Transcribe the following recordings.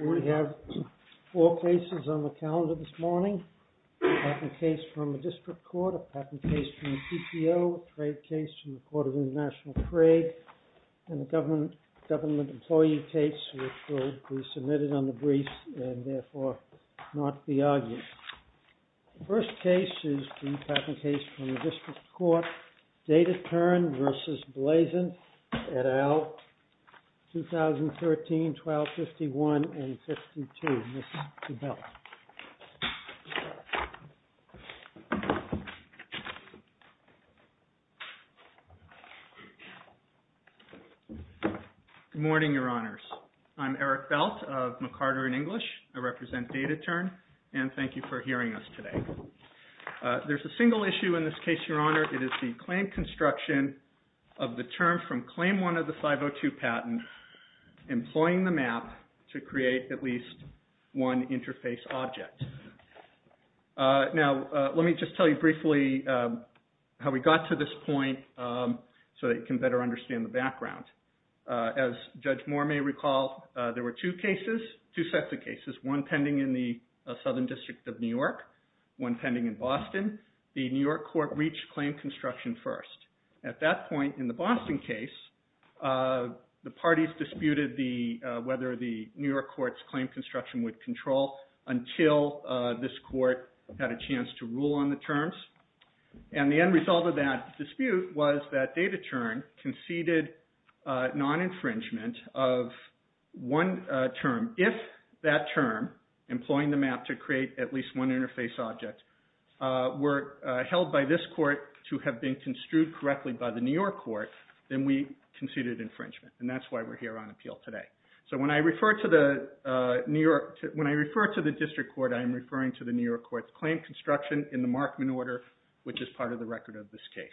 We have four cases on the calendar this morning. A patent case from the District Court, a patent case from the PTO, a trade case from the Court of International Trade, and a government employee case which will be submitted under briefs and therefore not be argued. The first case is the patent case from the District Court, DataTern v. Blazin et al., 2013-12-51 and 52. Mr. Belt. Good morning, Your Honors. I'm Eric Belt of McCarter & English. I represent DataTern, and thank you for hearing us today. There's a single issue in this case, Your Honor. It is the claim construction of the term from Claim 1 of the 502 patent employing the map to create at least one interface object. Now, let me just tell you briefly how we got to this point so that you can better understand the background. As Judge Moore may recall, there were two cases, two sets of cases, one pending in the Southern District of New York, one pending in Boston. The New York court reached claim construction first. At that point in the Boston case, the parties disputed whether the New York court's claim construction would control until this court had a chance to rule on the terms. And the end result of that dispute was that DataTern conceded non-infringement of one term. If that term, employing the map to create at least one interface object, were held by this court to have been construed correctly by the New York court, then we conceded infringement. And that's why we're here on appeal today. So when I refer to the New York, when I refer to the district court, I'm referring to the New York court's claim construction in the Markman order, which is part of the record of this case.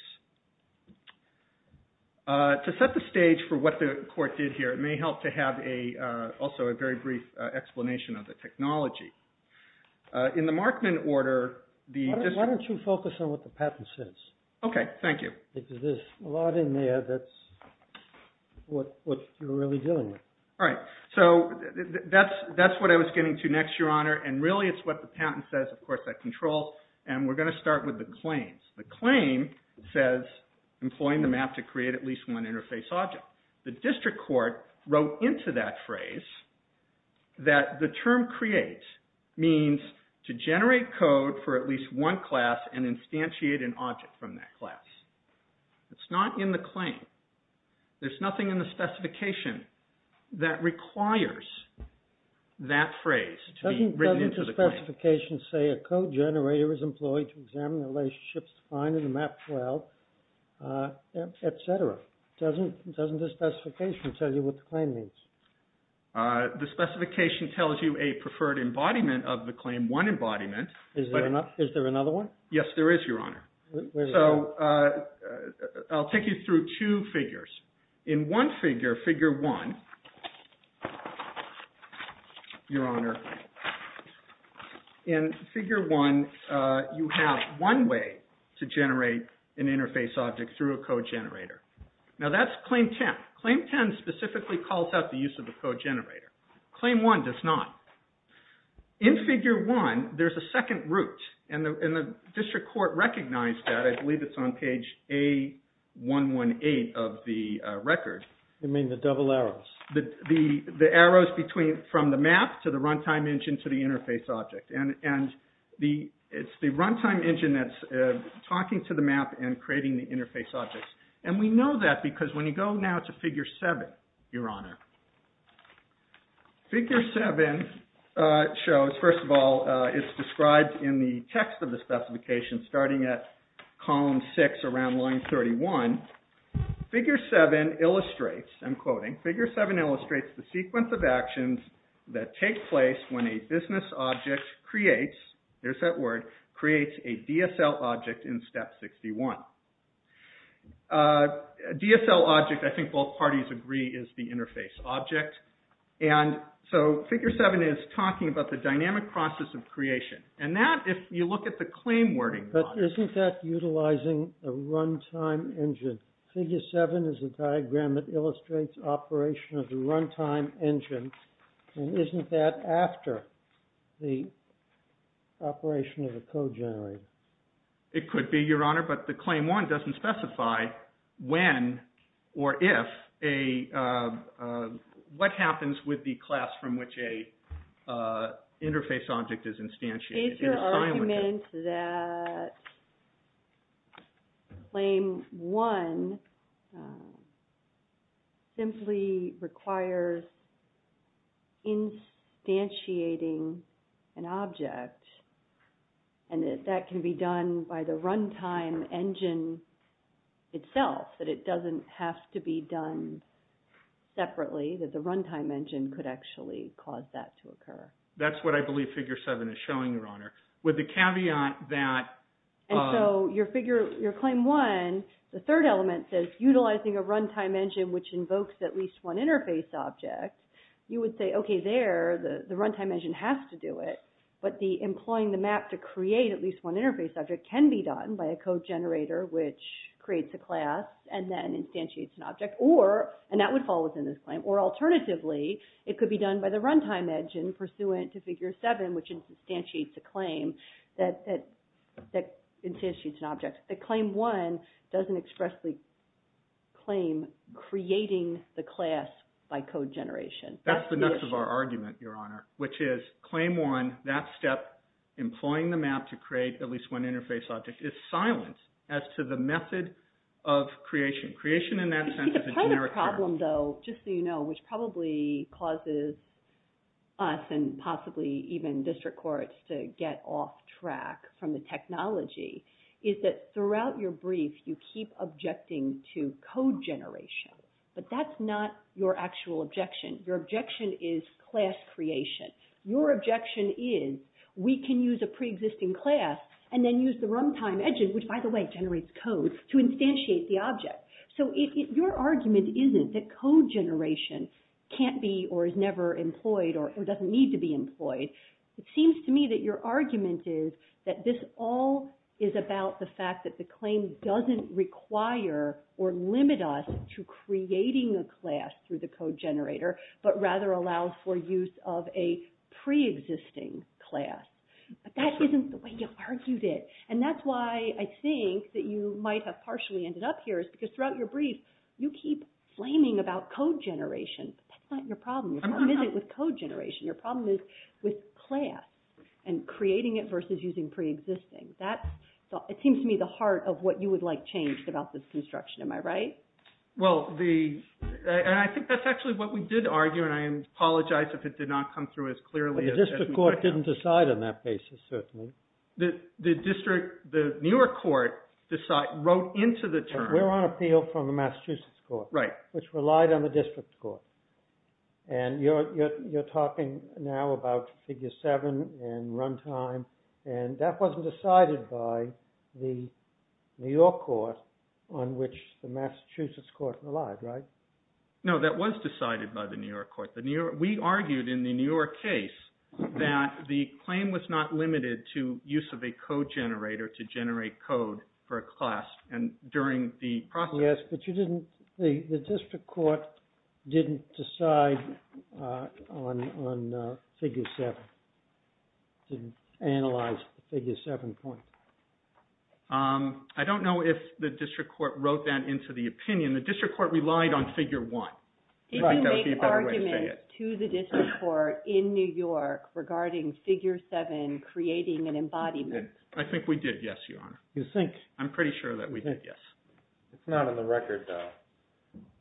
To set the stage for what the court did here, it may help to have a, also a very brief explanation of the technology. In the Markman order, the district... Why don't you focus on what the patent says? Okay, thank you. Because there's a lot in there that's what you're really dealing with. All right. So that's what I was getting to next, Your Honor. And really, it's what the patent says, of course, that controls. And we're going to start with the claims. The claim says, employing the map to create at least one interface object. The district court wrote into that phrase that the term create means to generate code for at least one class and instantiate an object from that class. It's not in the claim. There's nothing in the specification that requires that phrase to be written into the claim. Doesn't the specification say a code generator is employed to examine the relationships defined in the map 12, etc.? Doesn't the specification tell you what the claim means? The specification tells you a preferred embodiment of the claim, one embodiment. Is there another one? Yes, there is, Your Honor. So, I'll take you through two figures. In one figure, figure one, Your Honor, in figure one, you have one way to generate an interface object through a code generator. Now, that's claim 10. Claim 10 specifically calls out the use of the code generator. Claim one does not. In figure one, there's a second route. And the district court recognized that. I believe it's on page A118 of the record. You mean the double arrows? The arrows between, from the map to the runtime engine to the interface object. And it's the runtime engine that's talking to the map and creating the interface objects. And we know that because when you go now to figure seven, Your Honor, figure seven shows, first of all, it's described in the text of the specification starting at column six around line 31. Figure seven illustrates, I'm quoting, figure seven illustrates the sequence of actions that take place when a business object creates, there's that word, creates a DSL object in step 61. DSL object, I think both parties agree, is the interface object. And so, figure seven is talking about the dynamic process of creation. And that, if you look at the claim wording, But isn't that utilizing a runtime engine? Figure seven is a diagram that illustrates operation of the runtime engine. And isn't that after the operation of the code generator? It could be, Your Honor, but the claim one doesn't specify when or if a, what happens with the class from which a interface object is instantiated. Is your argument that claim one simply requires instantiating an object, and that that can be done by the runtime engine itself, that it doesn't have to be done separately, that the runtime engine could actually cause that to occur? That's what I believe figure seven is showing, Your Honor. With the caveat that, And so, your claim one, the third element says, utilizing a runtime engine which invokes at least one interface object, you would say, okay, there, the runtime engine has to do it, but the employing the map to create at least one interface object can be done by a code generator which creates a class and then instantiates an object, or, and that would fall within this claim, or alternatively, it could be done by the runtime engine pursuant to figure seven which instantiates a claim that instantiates an object. The claim one doesn't express the claim creating the class by code generation. That's the nuts of our argument, Your Honor, which is claim one, that step, employing the map to create at least one interface object is silent as to the method of creation. Creation in that sense is a generic term. I think the problem, though, just so you know, which probably causes us and possibly even district courts to get off track from the technology is that throughout your brief, you keep objecting to code generation, but that's not your actual objection. Your objection is class creation. Your objection is, we can use a preexisting class and then use the runtime engine, which, by the way, generates code, to instantiate the object. So your argument isn't that code generation can't be or is never employed or doesn't need to be employed. It seems to me that your argument is that this all is about the fact that the claim doesn't require or limit us to creating a class through the code generator, but rather allows for use of a preexisting class. But that isn't the way you argued it, and that's why I think that you might have partially ended up here is because throughout your brief, you keep flaming about code generation, but that's not your problem. Your problem isn't with code generation. Your problem is with class and creating it versus using preexisting. It seems to me the heart of what you would like changed about this construction. Am I right? Well, I think that's actually what we did argue, and I apologize if it did not come through as clearly. But the district court didn't decide on that basis, certainly. The district, the New York court, wrote into the term... And we're on appeal from the Massachusetts court. Right. Which relied on the district court. And you're talking now about figure seven and run time, and that wasn't decided by the New York court on which the Massachusetts court relied, right? No, that was decided by the New York court. We argued in the New York case that the claim was not limited to use of a code generator to generate code for a class. And during the process... Yes, but you didn't... The district court didn't decide on figure seven, didn't analyze the figure seven point. I don't know if the district court wrote that into the opinion. The district court relied on figure one. I think that would be a better way to say it. Did you make arguments to the district court in New York regarding figure seven creating an embodiment? I think we did, yes, your honor. You think? I'm pretty sure that we did, yes. It's not on the record, though.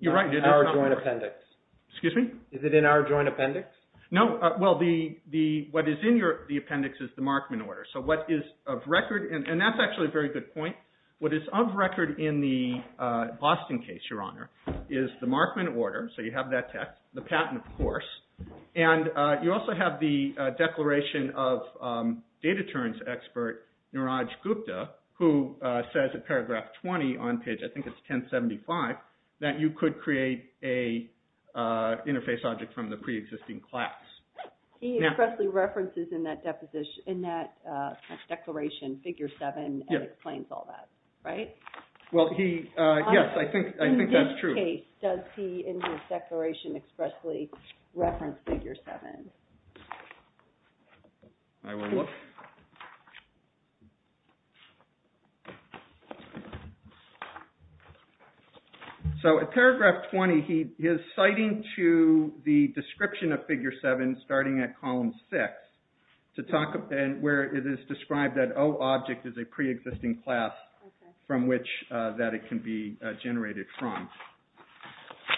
You're right, it is not on the record. It's in our joint appendix. Excuse me? Is it in our joint appendix? No, well, what is in the appendix is the Markman order. So what is of record, and that's actually a very good point, what is of record in the Boston case, your honor, is the Markman order, so you have that text, the patent, of course, and you also have the declaration of data terms expert, Niraj Gupta, who says in paragraph 20 on page, I think it's 1075, that you could create an interface object from the pre-existing class. He expressly references in that declaration figure seven and explains all that, right? Well, yes, I think that's true. In this case, does he in his declaration expressly reference figure seven? I will look. So in paragraph 20, he is citing to the description of figure seven starting at column six where it is described that O object is a pre-existing class from which that it can be generated from.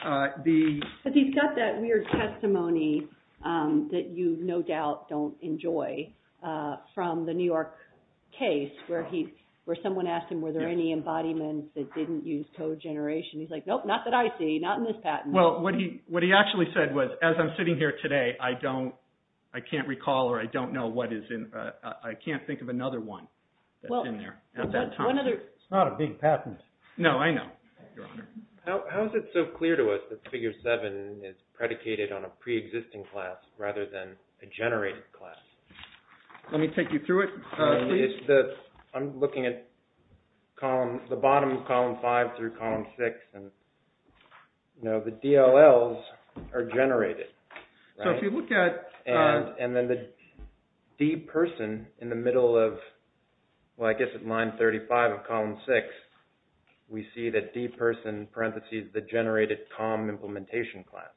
But he's got that weird testimony that you no doubt don't enjoy from the New York case where someone asked him were there any embodiments that didn't use code generation. He's like, nope, not that I see, not in this patent. Well, what he actually said was as I'm sitting here today, I can't recall or I don't know what is in, I can't think of another one that's in there at that time. It's not a big patent. No, I know, your honor. How is it so clear to us that figure seven is predicated on a pre-existing class rather than a generated class? Let me take you through it. I'm looking at column, the bottom of column five through column six and the DLLs are generated. So if you look at... And then the D person in the middle of, well, I guess at line 35 of column six, we see that D person parentheses the generated column implementation class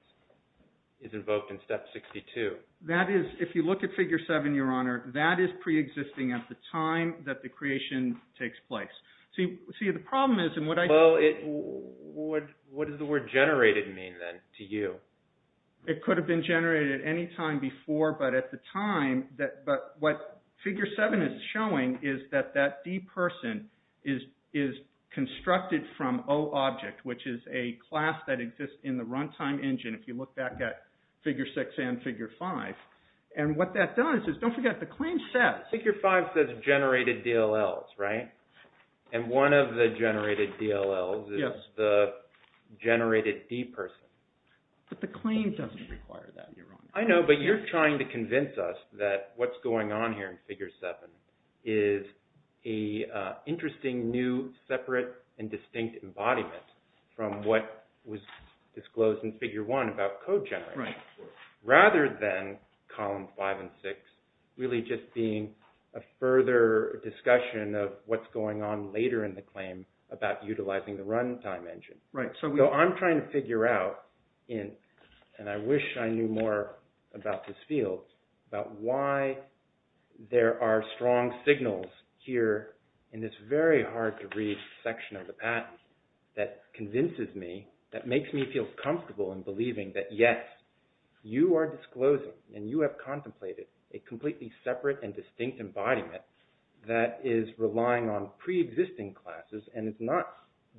is invoked in step 62. That is, if you look at figure seven, your honor, that is pre-existing at the time that the creation takes place. See, the problem is... What does the word generated mean then to you? It could have been generated at any time before, but at the time, but what figure seven is showing is that that D person is constructed from O object, which is a class that exists in the runtime engine if you look back at figure six and figure five. And what that does is, don't forget the claim says... Figure five says generated DLLs, right? And one of the generated DLLs is the generated D person. But the claim doesn't require that, you're wrong. I know, but you're trying to convince us that what's going on here in figure seven is a interesting new separate and distinct embodiment from what was disclosed in figure one about code generation. Rather than column five and six really just being a further discussion of what's going on later in the claim about utilizing the runtime engine. So I'm trying to figure out, and I wish I knew more about this field, about why there are strong signals here in this very hard to read section of the patent that convinces me, that makes me feel comfortable in believing that yes, you are disclosing and you have contemplated a completely separate and distinct embodiment that is relying on pre-existing classes and it's not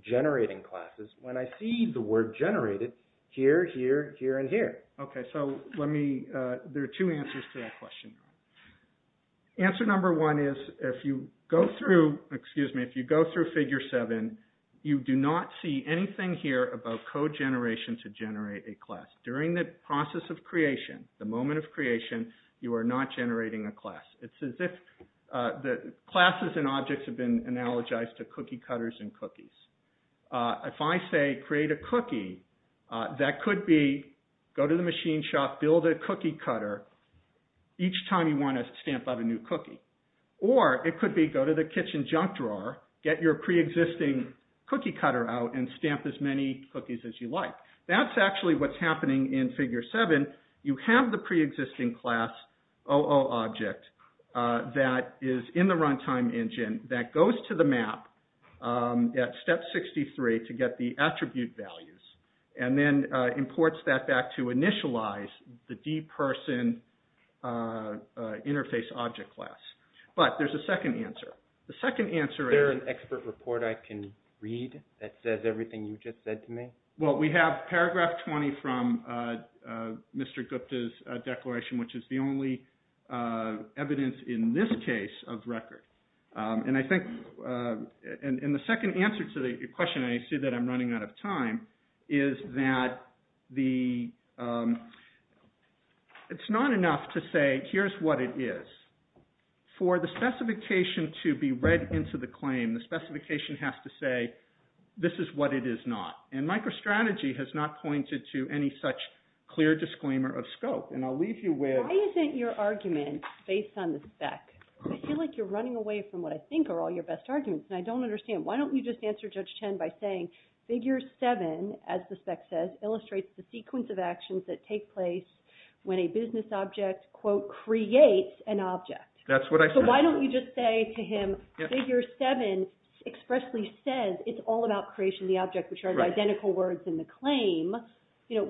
generating classes when I see the word generated here, here, here, and here. Okay, so let me... There are two answers to that question. Answer number one is if you go through, excuse me, if you go through figure seven you do not see anything here about code generation to generate a class. During the process of creation, the moment of creation, you are not generating a class. It's as if the classes and objects have been analogized to cookie cutters and cookies. If I say create a cookie that could be go to the machine shop, build a cookie cutter. Each time you want to stamp out a new cookie. Or it could be go to the kitchen junk drawer, get your pre-existing cookie cutter out and stamp as many cookies as you like. That's actually what's happening in figure seven. You have the pre-existing class OO object that is in the runtime engine that goes to the map at step 63 to get the attribute values and then imports that back to initialize the deperson interface object class. But there's a second answer. The second answer is... Is there an expert report I can read that says everything you just said to me? Well, we have paragraph 20 from Mr. Gupta's declaration which is the only evidence in this case of record. And I think... And the second answer to the question and I see that I'm running out of time is that the... It's not enough to say here's what it is. For the specification to be read into the claim, the specification has to say this is what it is not. And MicroStrategy has not pointed to any such clear disclaimer of scope. And I'll leave you with... Why isn't your argument based on the spec? I feel like you're running away from what I think are all your best arguments and I don't understand. Why don't you just answer Judge Chen by saying figure 7, as the spec says, illustrates the sequence of actions that take place when a business object quote creates an object. That's what I said. So why don't you just say to him figure 7 expressly says it's all about creation of the object which are the identical words in the claim. You know,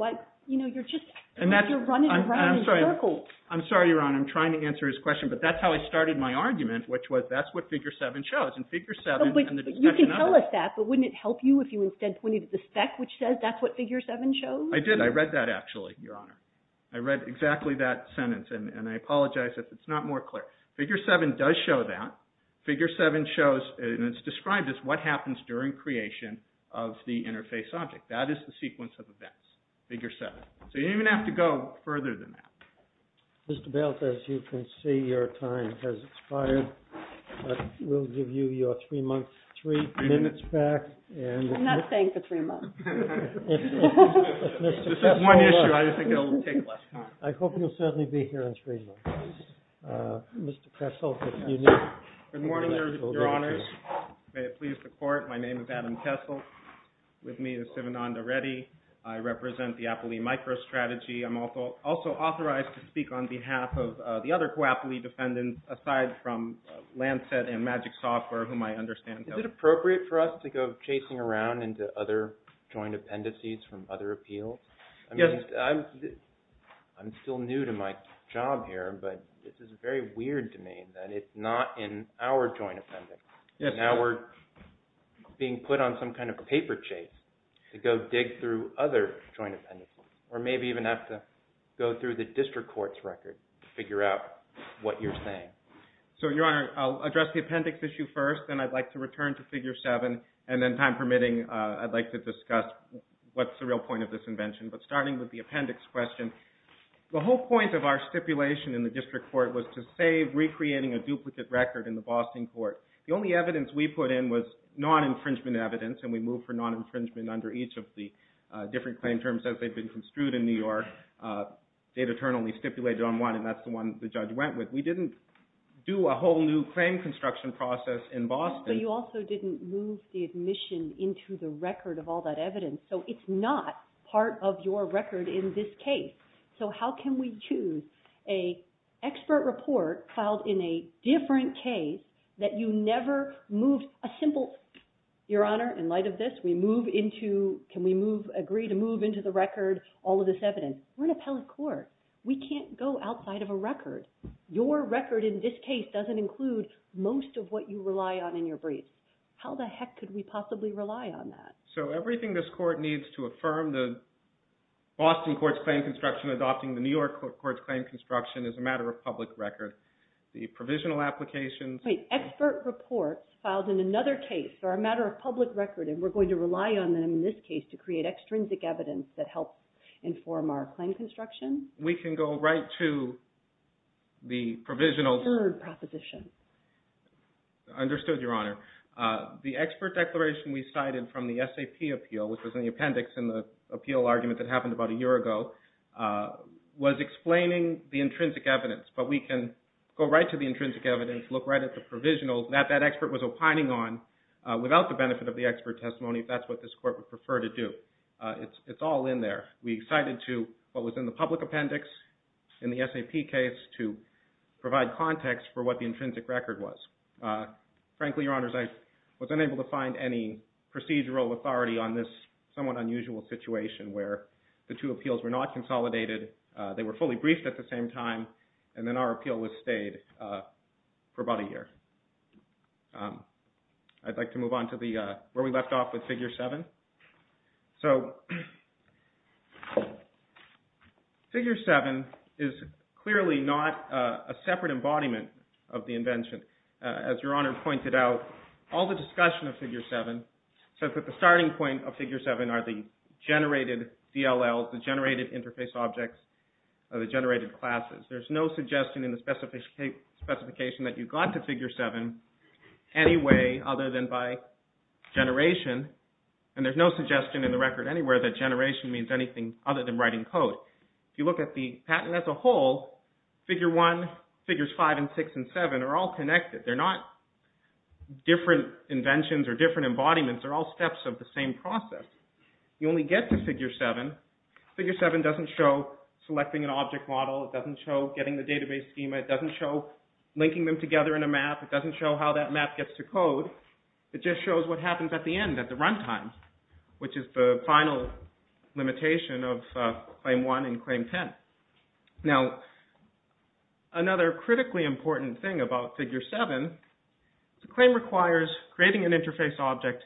you're just... You're running around in circles. I'm sorry, Ron. I'm trying to answer his question but that's how I started my argument which was that's what figure 7 shows. And figure 7... You can tell us that but wouldn't it help you if you instead pointed to the spec which says that's what figure 7 shows? I did. I read that actually, Your Honor. I read exactly that sentence and I apologize if it's not more clear. Figure 7 does show that. Figure 7 shows and it's described as what happens during creation of the interface object. That is the sequence of events. Figure 7. So you don't even have to go further than that. Mr. Belt, as you can see your time has expired but we'll give you your three minutes back and... I'm not staying for three months. This is one issue. I think it'll take less time. I hope you'll certainly be here in three months. Mr. Kessel, if you need... Good morning, Your Honors. May it please the Court. My name is Adam Kessel. With me is Sivananda Reddy. I represent the Apoly MicroStrategy. I'm also authorized to speak on behalf of the other co-Apoly defendants aside from Lancet and Magic Software whom I understand... Is it appropriate for us to go chasing around into other joint appendices from other appeals? Yes. I'm still new to my job here but this is very weird to me that it's not in our joint appendix. Now we're being put on some kind of paper chase to go dig through other joint appendices. Or maybe even have to go through the district court's record to figure out what you're saying. So, Your Honor, I'll address the appendix issue first and I'd like to return to Figure 7 and then, time permitting, I'd like to discuss what's the real point of this invention. But starting with the appendix question, the whole point of our stipulation in the district court was to save recreating a duplicate record in the Boston court. The only evidence we put in was non-infringement evidence and we moved for non-infringement under each of the different claim terms as they've been construed in New York. Data turn only stipulated on one and that's the one the judge went with. We didn't do a whole new claim construction process in Boston. But you also didn't move the admission into the record of all that evidence. So, it's not part of your record in this case. So, how can we choose an expert report filed in a different case that you never moved a simple Your Honor, in light of this, we move into can we move agree to move into the record all of this evidence? We're an appellate court. We can't go outside of a record. Your record in this case doesn't include most of what you rely on in your briefs. How the heck could we possibly rely on that? So, everything this court needs to affirm the Boston Court's claim construction adopting the New York Court's claim construction is a matter of public record. The provisional applications Wait, expert reports filed in another case are a matter of public record and we're going to rely on them in this case to create extrinsic evidence that helps inform our claim construction? We can go right to the provisional third proposition. Understood, Your Honor. The expert declaration we cited from the SAP appeal which was in the appendix in the appeal argument that happened about a year ago was explaining the intrinsic evidence but we can go right to the intrinsic evidence look right at the provisional that that expert was opining on without the benefit of the expert testimony if that's what this court would prefer to do. It's all in there. We cited to what was in the public appendix in the SAP case to provide context for what the intrinsic record was. Frankly, Your Honors, I was unable to find any procedural authority on this somewhat unusual situation where the two appeals were not consolidated they were fully briefed at the same time and then our appeal was stayed for about a year. I'd like to move on to the where we left off with Figure 7. So, Figure 7 is clearly not a separate embodiment of the invention. As Your Honor pointed out, all the discussion of Figure 7 says that the starting point of Figure 7 are the generated DLLs, the generated interface objects or the generated classes. There's no suggestion in the specification that you got to Figure 7 any way other than by generation and there's no suggestion in the record anywhere that generation means anything other than writing code. If you look at the patent as a whole, Figure 1, Figures 5 and 6 and 7 are all connected. They're not different inventions or different embodiments, they're all steps of the same process. You only get to Figure 7. Figure 7 doesn't show selecting an object model, it doesn't show getting the database schema, it doesn't show linking them together in a way that the map gets to code, it just shows what happens at the end, at the run time, which is the final limitation of Claim 1 and Claim 10. Now, another critically important thing about Figure 7, the claim requires creating an interface object,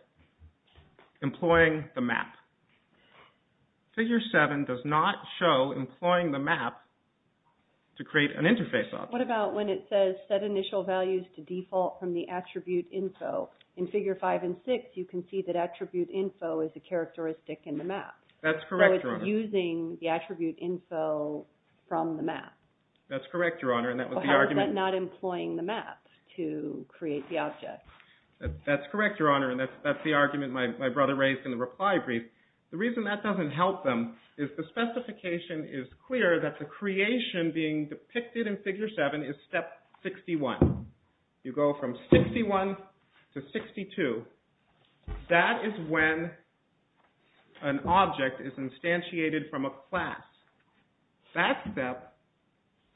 employing the map. Figure 7 does not show employing the map to create an interface object. What about when it says set initial values to default from the attribute info? In Figure 5 and 6 you can see that attribute info is a characteristic in the map. That's correct, Your Honor. So it's using the attribute info from the map. That's correct, Your Honor, and that was the argument. How is that not employing the map to create the object? That's correct, Your Honor, and that's the argument my brother raised in the reply brief. The reason that doesn't help them is the specification is clear that the creation being depicted in Figure 7 is Step 61. You go from 61 to 62. That is when an object is instantiated from a class. That step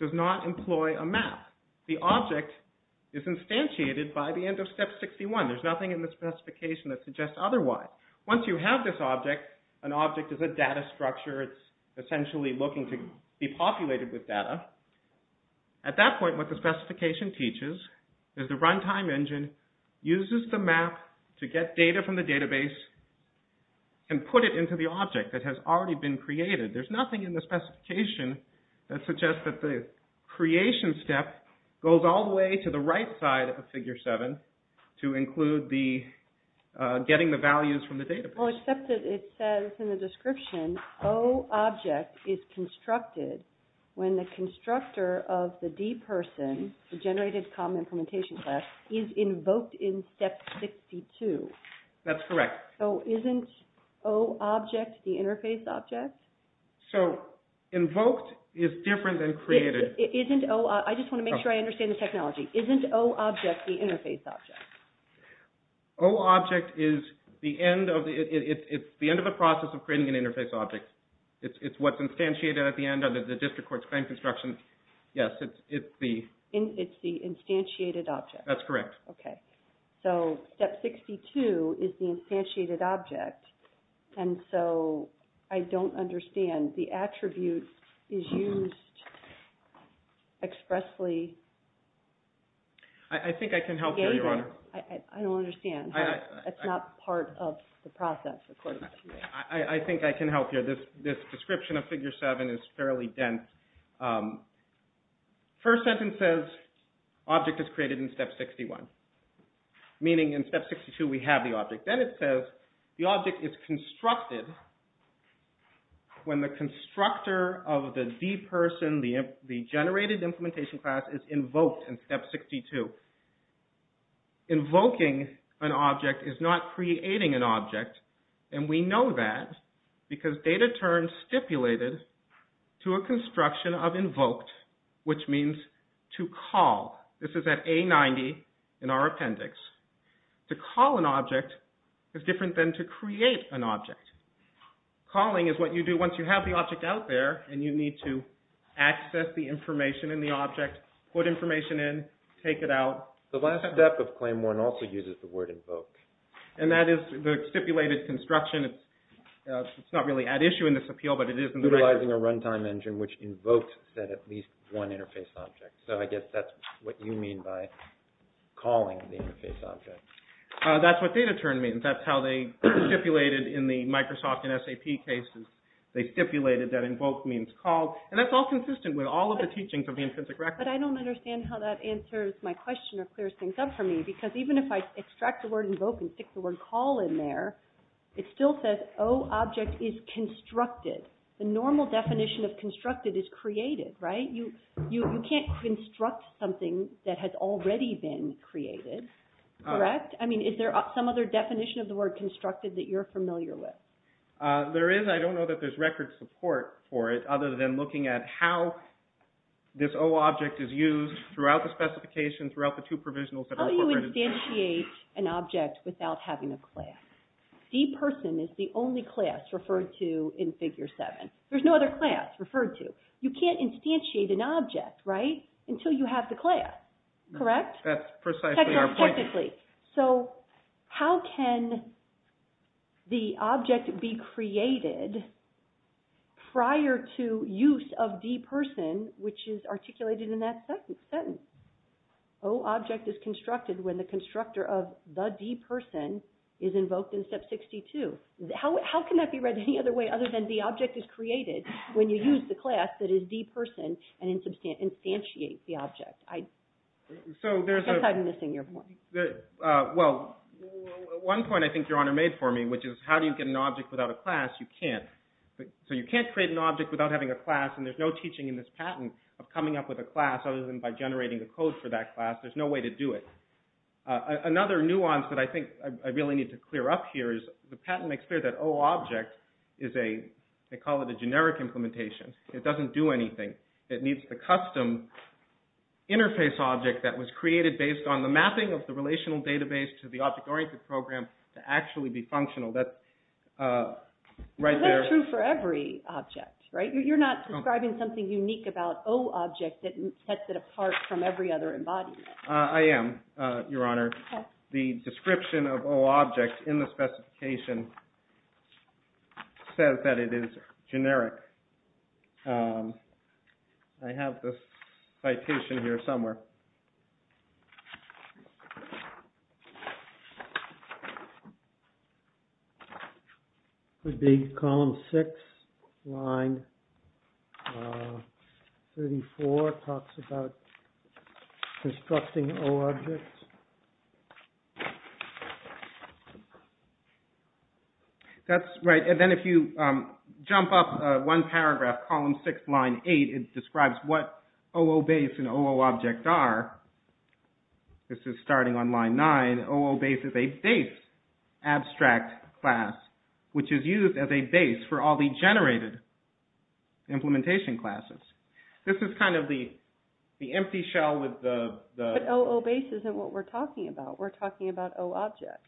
does not employ a map. The object is instantiated by the end of Step 61. There's nothing in the specification that suggests otherwise. Once you have this object, an object is a data structure. It's essentially looking to be populated with data. At that point, what the specification teaches is the runtime engine uses the map to get data from the database and put it into the object that has already been created. There's nothing in the specification that suggests that the creation step goes all the way to the right side of the database. Well, except that it says in the description, O object is constructed when the constructor of the D person, the generated com implementation class, is invoked in Step 62. That's correct. So isn't O object the interface object? So invoked is different than created. I just want to make sure I understand the technology. Isn't O object the interface object? It's the end of the process of creating an interface object. It's what's instantiated at the end of the district court's construction. Yes. It's the instantiated object. That's correct. Okay. So Step 62 is the instantiated object. And so I don't understand. The attribute is used to expressly I think I can help you, Your Honor. I don't understand. It's not part of the process according to me. I think I can help you. This description of Figure 7 is fairly dense. First sentence says object is created in Step 61. Meaning in Step 62 we have the object. Then it says the object is constructed when the constructor of the D person, the generated implementation class is invoked in Step 62. Invoking an object is not creating an object. And we know that because data turns stipulated to a construction of invoked which means to call. This is at A90 in our appendix. To call an object is different than to create an object. Calling is what you do once you have the object out there and you need to access the information in the object, put information in, take it out. The last step of Claim 1 also uses the word invoked. And that is the stipulated construction. It's not really at issue in this appeal, but it is in the record. Utilizing a runtime engine which invokes at least one interface object. So I guess that's what you mean by calling the interface object. That's what data turn means. That's how they stipulated in the Microsoft and SAP cases. They stipulated that invoked means called. And that's all consistent with all of the teachings of the Intrinsic Record. But I don't understand how that answers my question or clears things up for me because even if I extract the word invoke and stick the word call in there, it still says O object is constructed. The normal definition of constructed is created, right? You can't construct something that has already been created, correct? I mean, is there some other definition of the word constructed that you're familiar with? There is. I don't know that there's record support for it other than looking at how this O object is used throughout the specifications, throughout the two provisionals that are incorporated. How do you instantiate an object without having a class? D person is the only class referred to in Figure 7. There's no other class referred to. You can't instantiate an object, right, until you have the class, correct? That's precisely our point. Technically. So, how can the object be created prior to use of D person, which is articulated in that second sentence? O object is constructed when the constructor of the D person is invoked in Step 62. How can that be read any other way other than the object is created when you use the class that is D person and instantiate the object? I'm missing your point. Well, one point I think Your Honor made for me, which is how do you get an object without a class? You can't. So you can't create an object without having a class and there's no teaching in this patent of coming up with a generic implementation. It doesn't do anything. It needs the custom interface object that was created based on the mapping of the relational database to the object oriented program to actually be functional. Is that true for every object, right? You're not describing something unique about O object that sets it apart from every other embodiment. I am, Your Honor. The description of O object in the specification says that it is generic. I have this citation here somewhere. It would talks about constructing O objects. And the description of O objects is that they are generic objects. They are generic objects. That's right. And then if you jump up one paragraph, column 6, line 8, it describes what O O base and O O object are. This is starting on line 9. O O base is a base abstract class, which is used as a base for all the generated implementation classes. This is kind of the empty shell with the... But O O base isn't what we're talking about. We're talking about O object.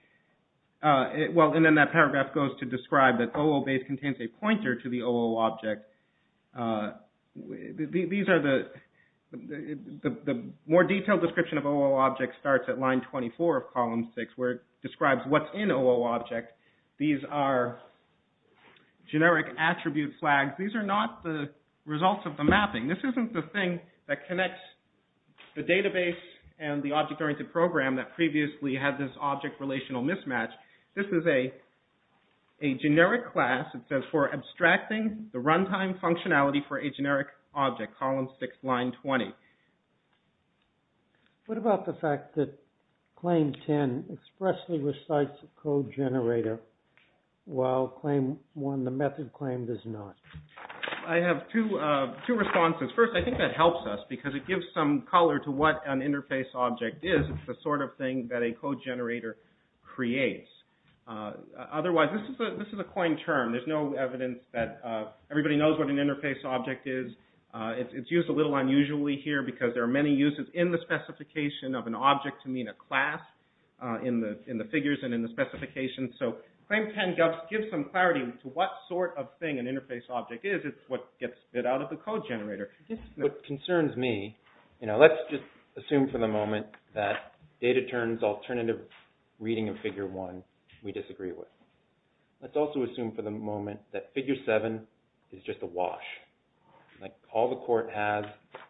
Well, and then that paragraph goes to describe that O O base contains a pointer to the O O object. These are the... The definition of O O object starts at line 24 of column 6 where it describes what's in O O object. These are generic attribute flags. These are not the results of the mapping. This isn't the thing that connects the database and the object-oriented program that previously had this object in O O. What about the fact that claim 10 expressly recites a code generator while claim 1, the method claim, does not? I have two responses. First, I think that helps us because it gives some color to what an interface object is. It's the sort of thing that a code generator It's not usually here because there are many uses in the specification of an object to mean a class in the figures and in the specifications. So claim 10 gives some clarity to what sort of thing an interface object is. It's what gets spit out of the code generator. what we're left with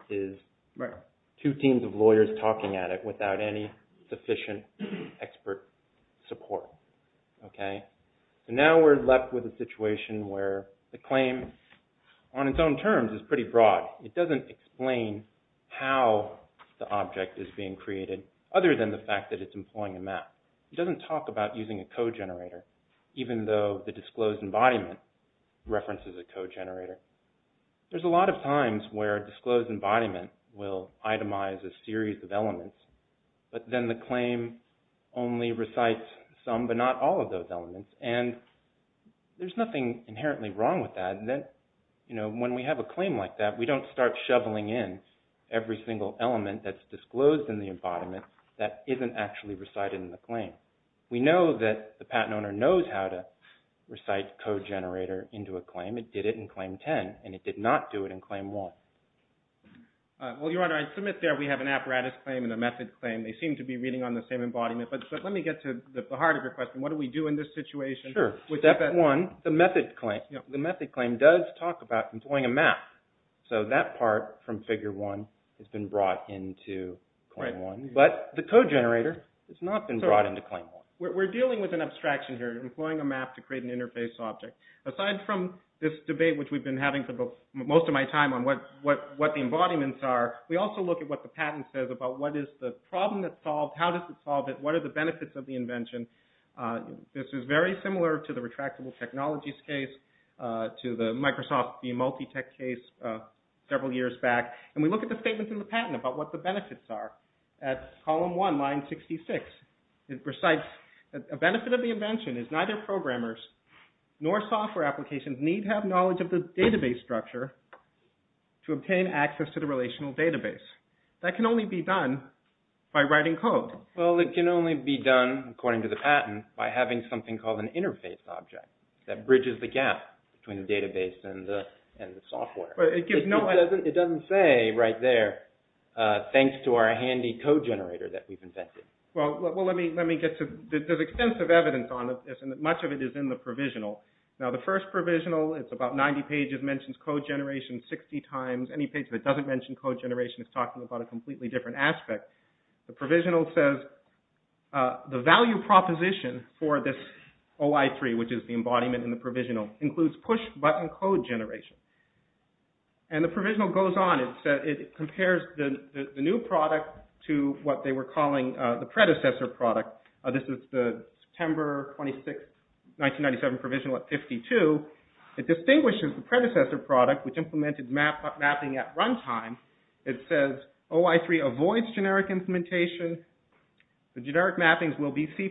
is two teams of lawyers talking at it without any sufficient expert support. So now we're left with a situation where the claim on its own terms is pretty broad. It doesn't explain how the object is being created other than the fact that it's employing a map. It doesn't talk about using a code generator even though the disclosed embodiment references a code generator. There's a lot of times where disclosed embodiment will itemize a series of elements but then the claim only recites some but not all of those elements and there's nothing inherently wrong with that. When we have a claim like that we don't start shoveling in every single element that's disclosed in the embodiment that isn't actually recited in the claim. We know that the patent owner knows how to recite code generator into a claim. It did it in claim 10 and it did not do it in claim 1. Well, Your Honor, I submit there we have an apparatus claim and a method claim. They seem to be reading on the same embodiment but let me get to the heart of your question. What do we do in this situation? Sure. The method claim does talk about employing a map. So that part from figure 1 has been brought into claim 1 but the embodiments are, we also look at what the patent says about what is the problem that solved, how does it solve it, what are the benefits of the invention. This is very similar retractable technologies case, to the Microsoft multi-tech case several years back. And we look at the statements in the patent about what the benefits are at column 1, line 66. It recites, a benefit of the invention is neither programmers nor software applications need to have knowledge of the database structure to obtain access to the relational database. That can only be done by writing code. Well it can only be done according to the patent by having something called an interface object that bridges the gap between the database and the software. It doesn't say right there, thanks to our handy code generator that we've invented. Well let me get to, there's extensive evidence on this and much of it is in the provisional. Now the first provisional, it's about 90 pages, mentions code generation 60 times, any page that doesn't mention code generation is talking about a completely different aspect. The provisional says, the value proposition for this OI3, which is the new product, and the provisional goes on. It compares the new product to what they were calling the predecessor product. This is the September 26, 1997 provisional at 52. It distinguishes the predecessor product, which implemented mapping at run time. It says, OI3 avoids generic implementation. The generic mappings will be C++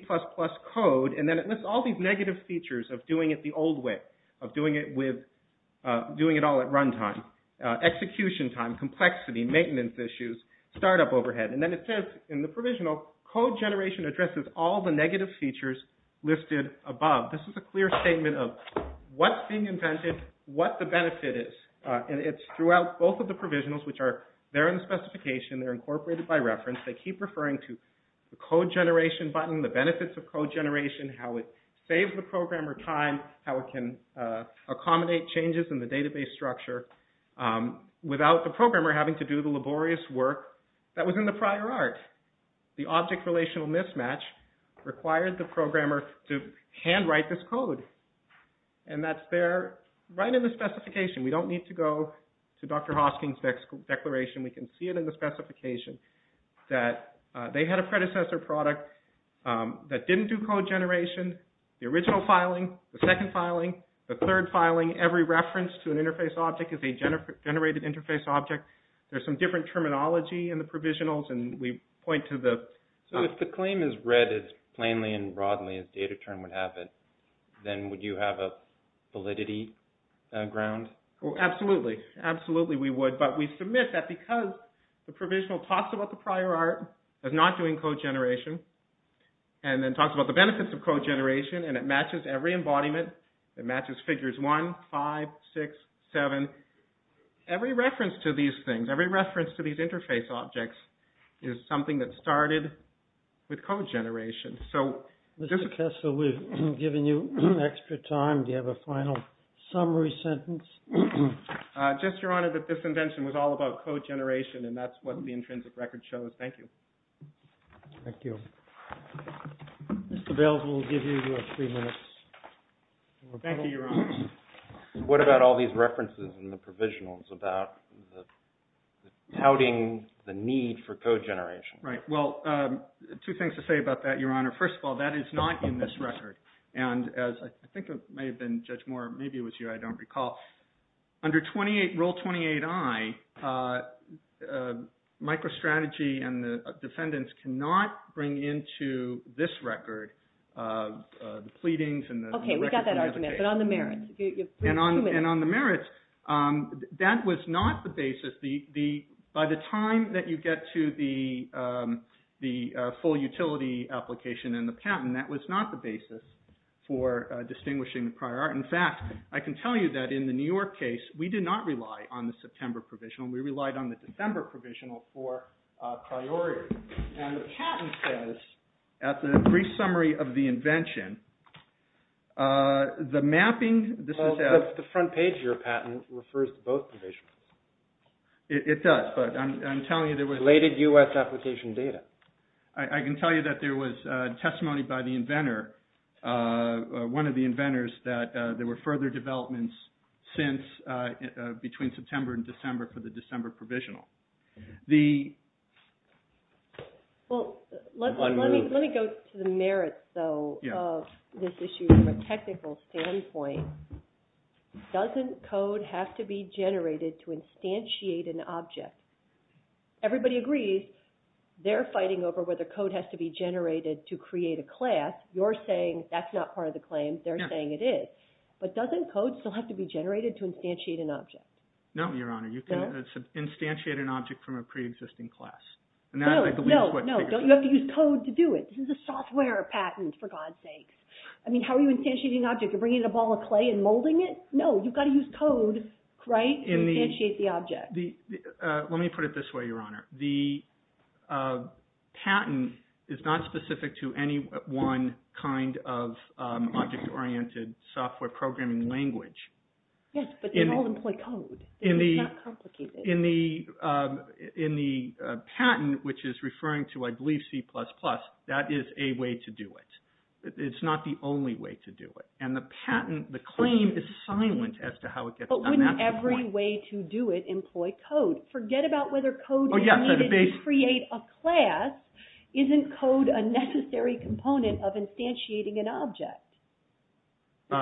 code and then it lists all these negative features of doing it the old way, of doing it all at run time, execution time, complexity, maintenance issues, startup overhead, and then it says in the provisional, code generation addresses all the negative features listed above. This is a clear statement of what's being invented, what the benefit is, and it's throughout both of the provisionals, which are there in the specification, they're incorporated by reference, they keep referring to the code generation button, the benefits of code generation, how it saves the programmer time, how it can maintain the infrastructure without the programmer having to do the laborious work that was in the prior art. The object relational mismatch required the programmer to handwrite this code, and that's there right in the specification. We don't need to go to Dr. Hosking's declaration. We can see it in the specification that they had a predecessor product that didn't do code generation, the original filing, the second filing, the third filing, every reference to an interface object is a generated interface object. There's some different terminology in the provisionals, and we point to the... So if the claim is read as plainly and broadly as data term would have it, then would you have a validity ground? Absolutely. Absolutely we would, but we submit that because the provisional talks about the prior art as not doing code generation, and then talks about the benefits of code generation, and it matches every embodiment, it matches figures one, five, six, seven, every reference to these things, every reference to these interface objects is something that started with code generation. So... Mr. Kessel, we've given you extra time. Do you have a final summary sentence? Just, Your Honor, that this invention was all about code generation, and that's what the intrinsic record shows. Thank you. Thank you. Mr. Bales will give you three minutes. Thank you, Your Honor. What about all these references in the provisionals about touting the need for code generation? Right. Well, two things to say about that, Your Honor. First of all, that is not in this record, and as I think it may have been Judge Moore, maybe it was you, I don't recall, under Rule 28i, microstrategy and the defendants cannot bring into this record the pleadings and the... Okay, we got that argument, but on the merits. You have three minutes. And on the merits, that was not the basis. By the time that you get to the full utility application and the patent, that was not the basis for distinguishing the prior art. In fact, I can tell you that in the New York case, we did not rely on the September provisional. We relied on the December provisional for priority. And the patent says, at the brief summary of the invention, the mapping... The front page of your patent refers to both provisions. It does, but I'm telling you there was... Related U.S. application data. I can tell you that there was testimony by the inventor, one of the inventors, that there were further developments since, between September and December for the December provisional. The... Well, let me go to the merits, though. The merits of this issue from a technical standpoint, doesn't code have to be generated to instantiate an object? Everybody agrees they're fighting over whether code has to be generated to create a class. You're saying that's not part of the claim. They're saying it is. But doesn't code still have to be generated to instantiate an object? No, Your Honor. No? You can instantiate an object from a pre-existing class. No, you have to use code to do it. This is a software patent, for God's sake. I mean, how are you instantiating an object? You're bringing in a ball of clay and molding it? No, you've got to use code, right, to instantiate the object. Let me put it this way, Your Honor. The patent is not specific to any one kind of object-oriented software programming language. Yes, but they all employ code. It's not complicated. In the patent, which is referring to, I believe, C++, that is a way to do it. It's not the only way to do it. And the patent, the claim, is silent as to how it gets done. But wouldn't every way to do it employ code? Forget about whether code is needed to create a class. Isn't code a necessary component of instantiating an object?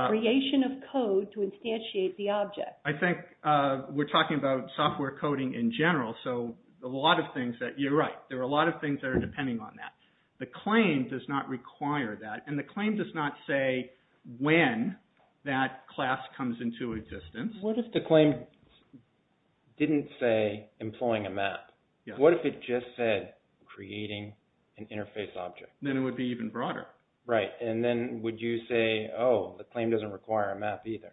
Creation of code to instantiate the object. I think we're talking about software coding in general, so a lot of things, you're right, there are a lot of things that are depending on that. The claim does not require that, and the claim does not say when that was just said, creating an interface object. Then it would be even broader. Right, and then would you say, oh, the claim doesn't require a map either?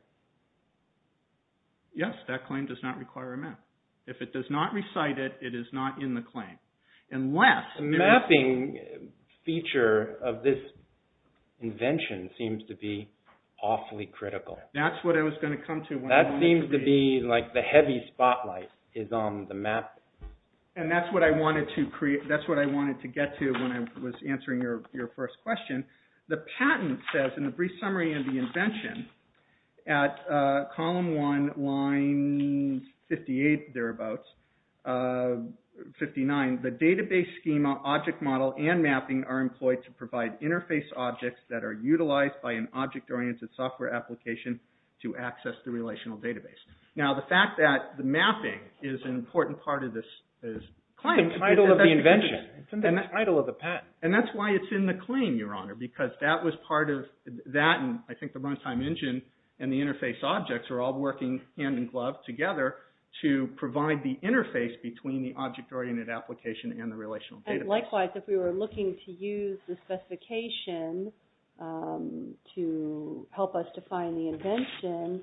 Yes, that claim does not require a map. If it does not recite it, it is not in the claim. The mapping feature of this invention seems to be awfully critical. That's what I was going to come to. That seems to be like the heavy spotlight is on the map. And that's what I wanted to get to when I was answering your first question. The patent says, in the brief summary of the invention, at column one, there are three interface objects that are utilized by an object-oriented software application to access the relational database. Now, the fact that the mapping is an important part of this claim... The title of the invention. The title of the patent. And that's why it's important for the application to help us define the invention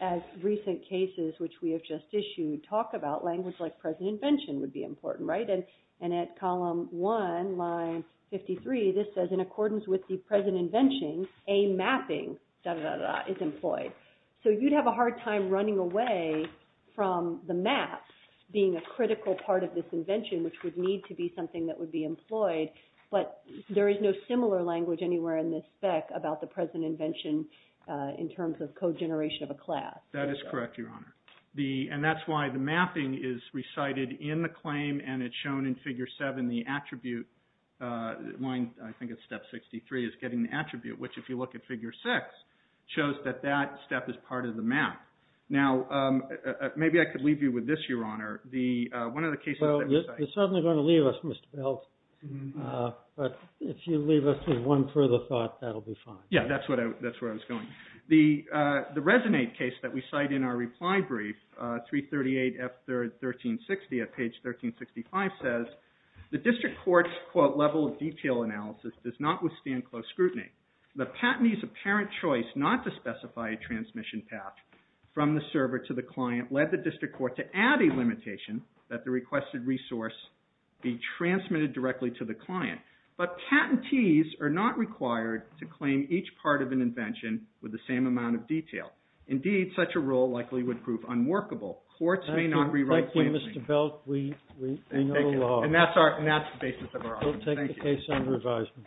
as recent cases, which we have just issued, talk about language like present invention would be important, right? And at column one, line 53, this says, in accordance with the present invention, a mapping is employed. So you'd have a hard time running away from the map being a critical part of this invention, which would need to be something that would be employed, but there is no similar language anywhere in this spec about the present invention in terms of code generation of a class. That is correct, Your Honor. And that's why the mapping is recited in the claim, and it's shown in figure 7, the attribute, line, I think it's step 63, is getting the attribute, which if you figure 6, shows that that step is part of the map. Now, maybe I could leave you with this, Your Honor. One of the cases that we cite is the Resonate case. But if you leave us with one further thought, that will be fine. Yeah, that's where I was going. The Resonate case that we cite in our reply brief, 338 F 1360 at page 1365 says, the district court's level of detail analysis does not withstand close scrutiny. The patentee's apparent choice not to specify a transmission path from the server to the client led the district court to add a limitation that the requested resource be transmitted directly to the client. But patentees are not required to claim each part of an invention with the same amount of detail. Indeed, such a rule likely would prove unworkable. Courts may not rewrite claims. Thank you, Mr. Belk. We know the law. And that's the basis of our argument. Thank you. We'll take the case under advisement.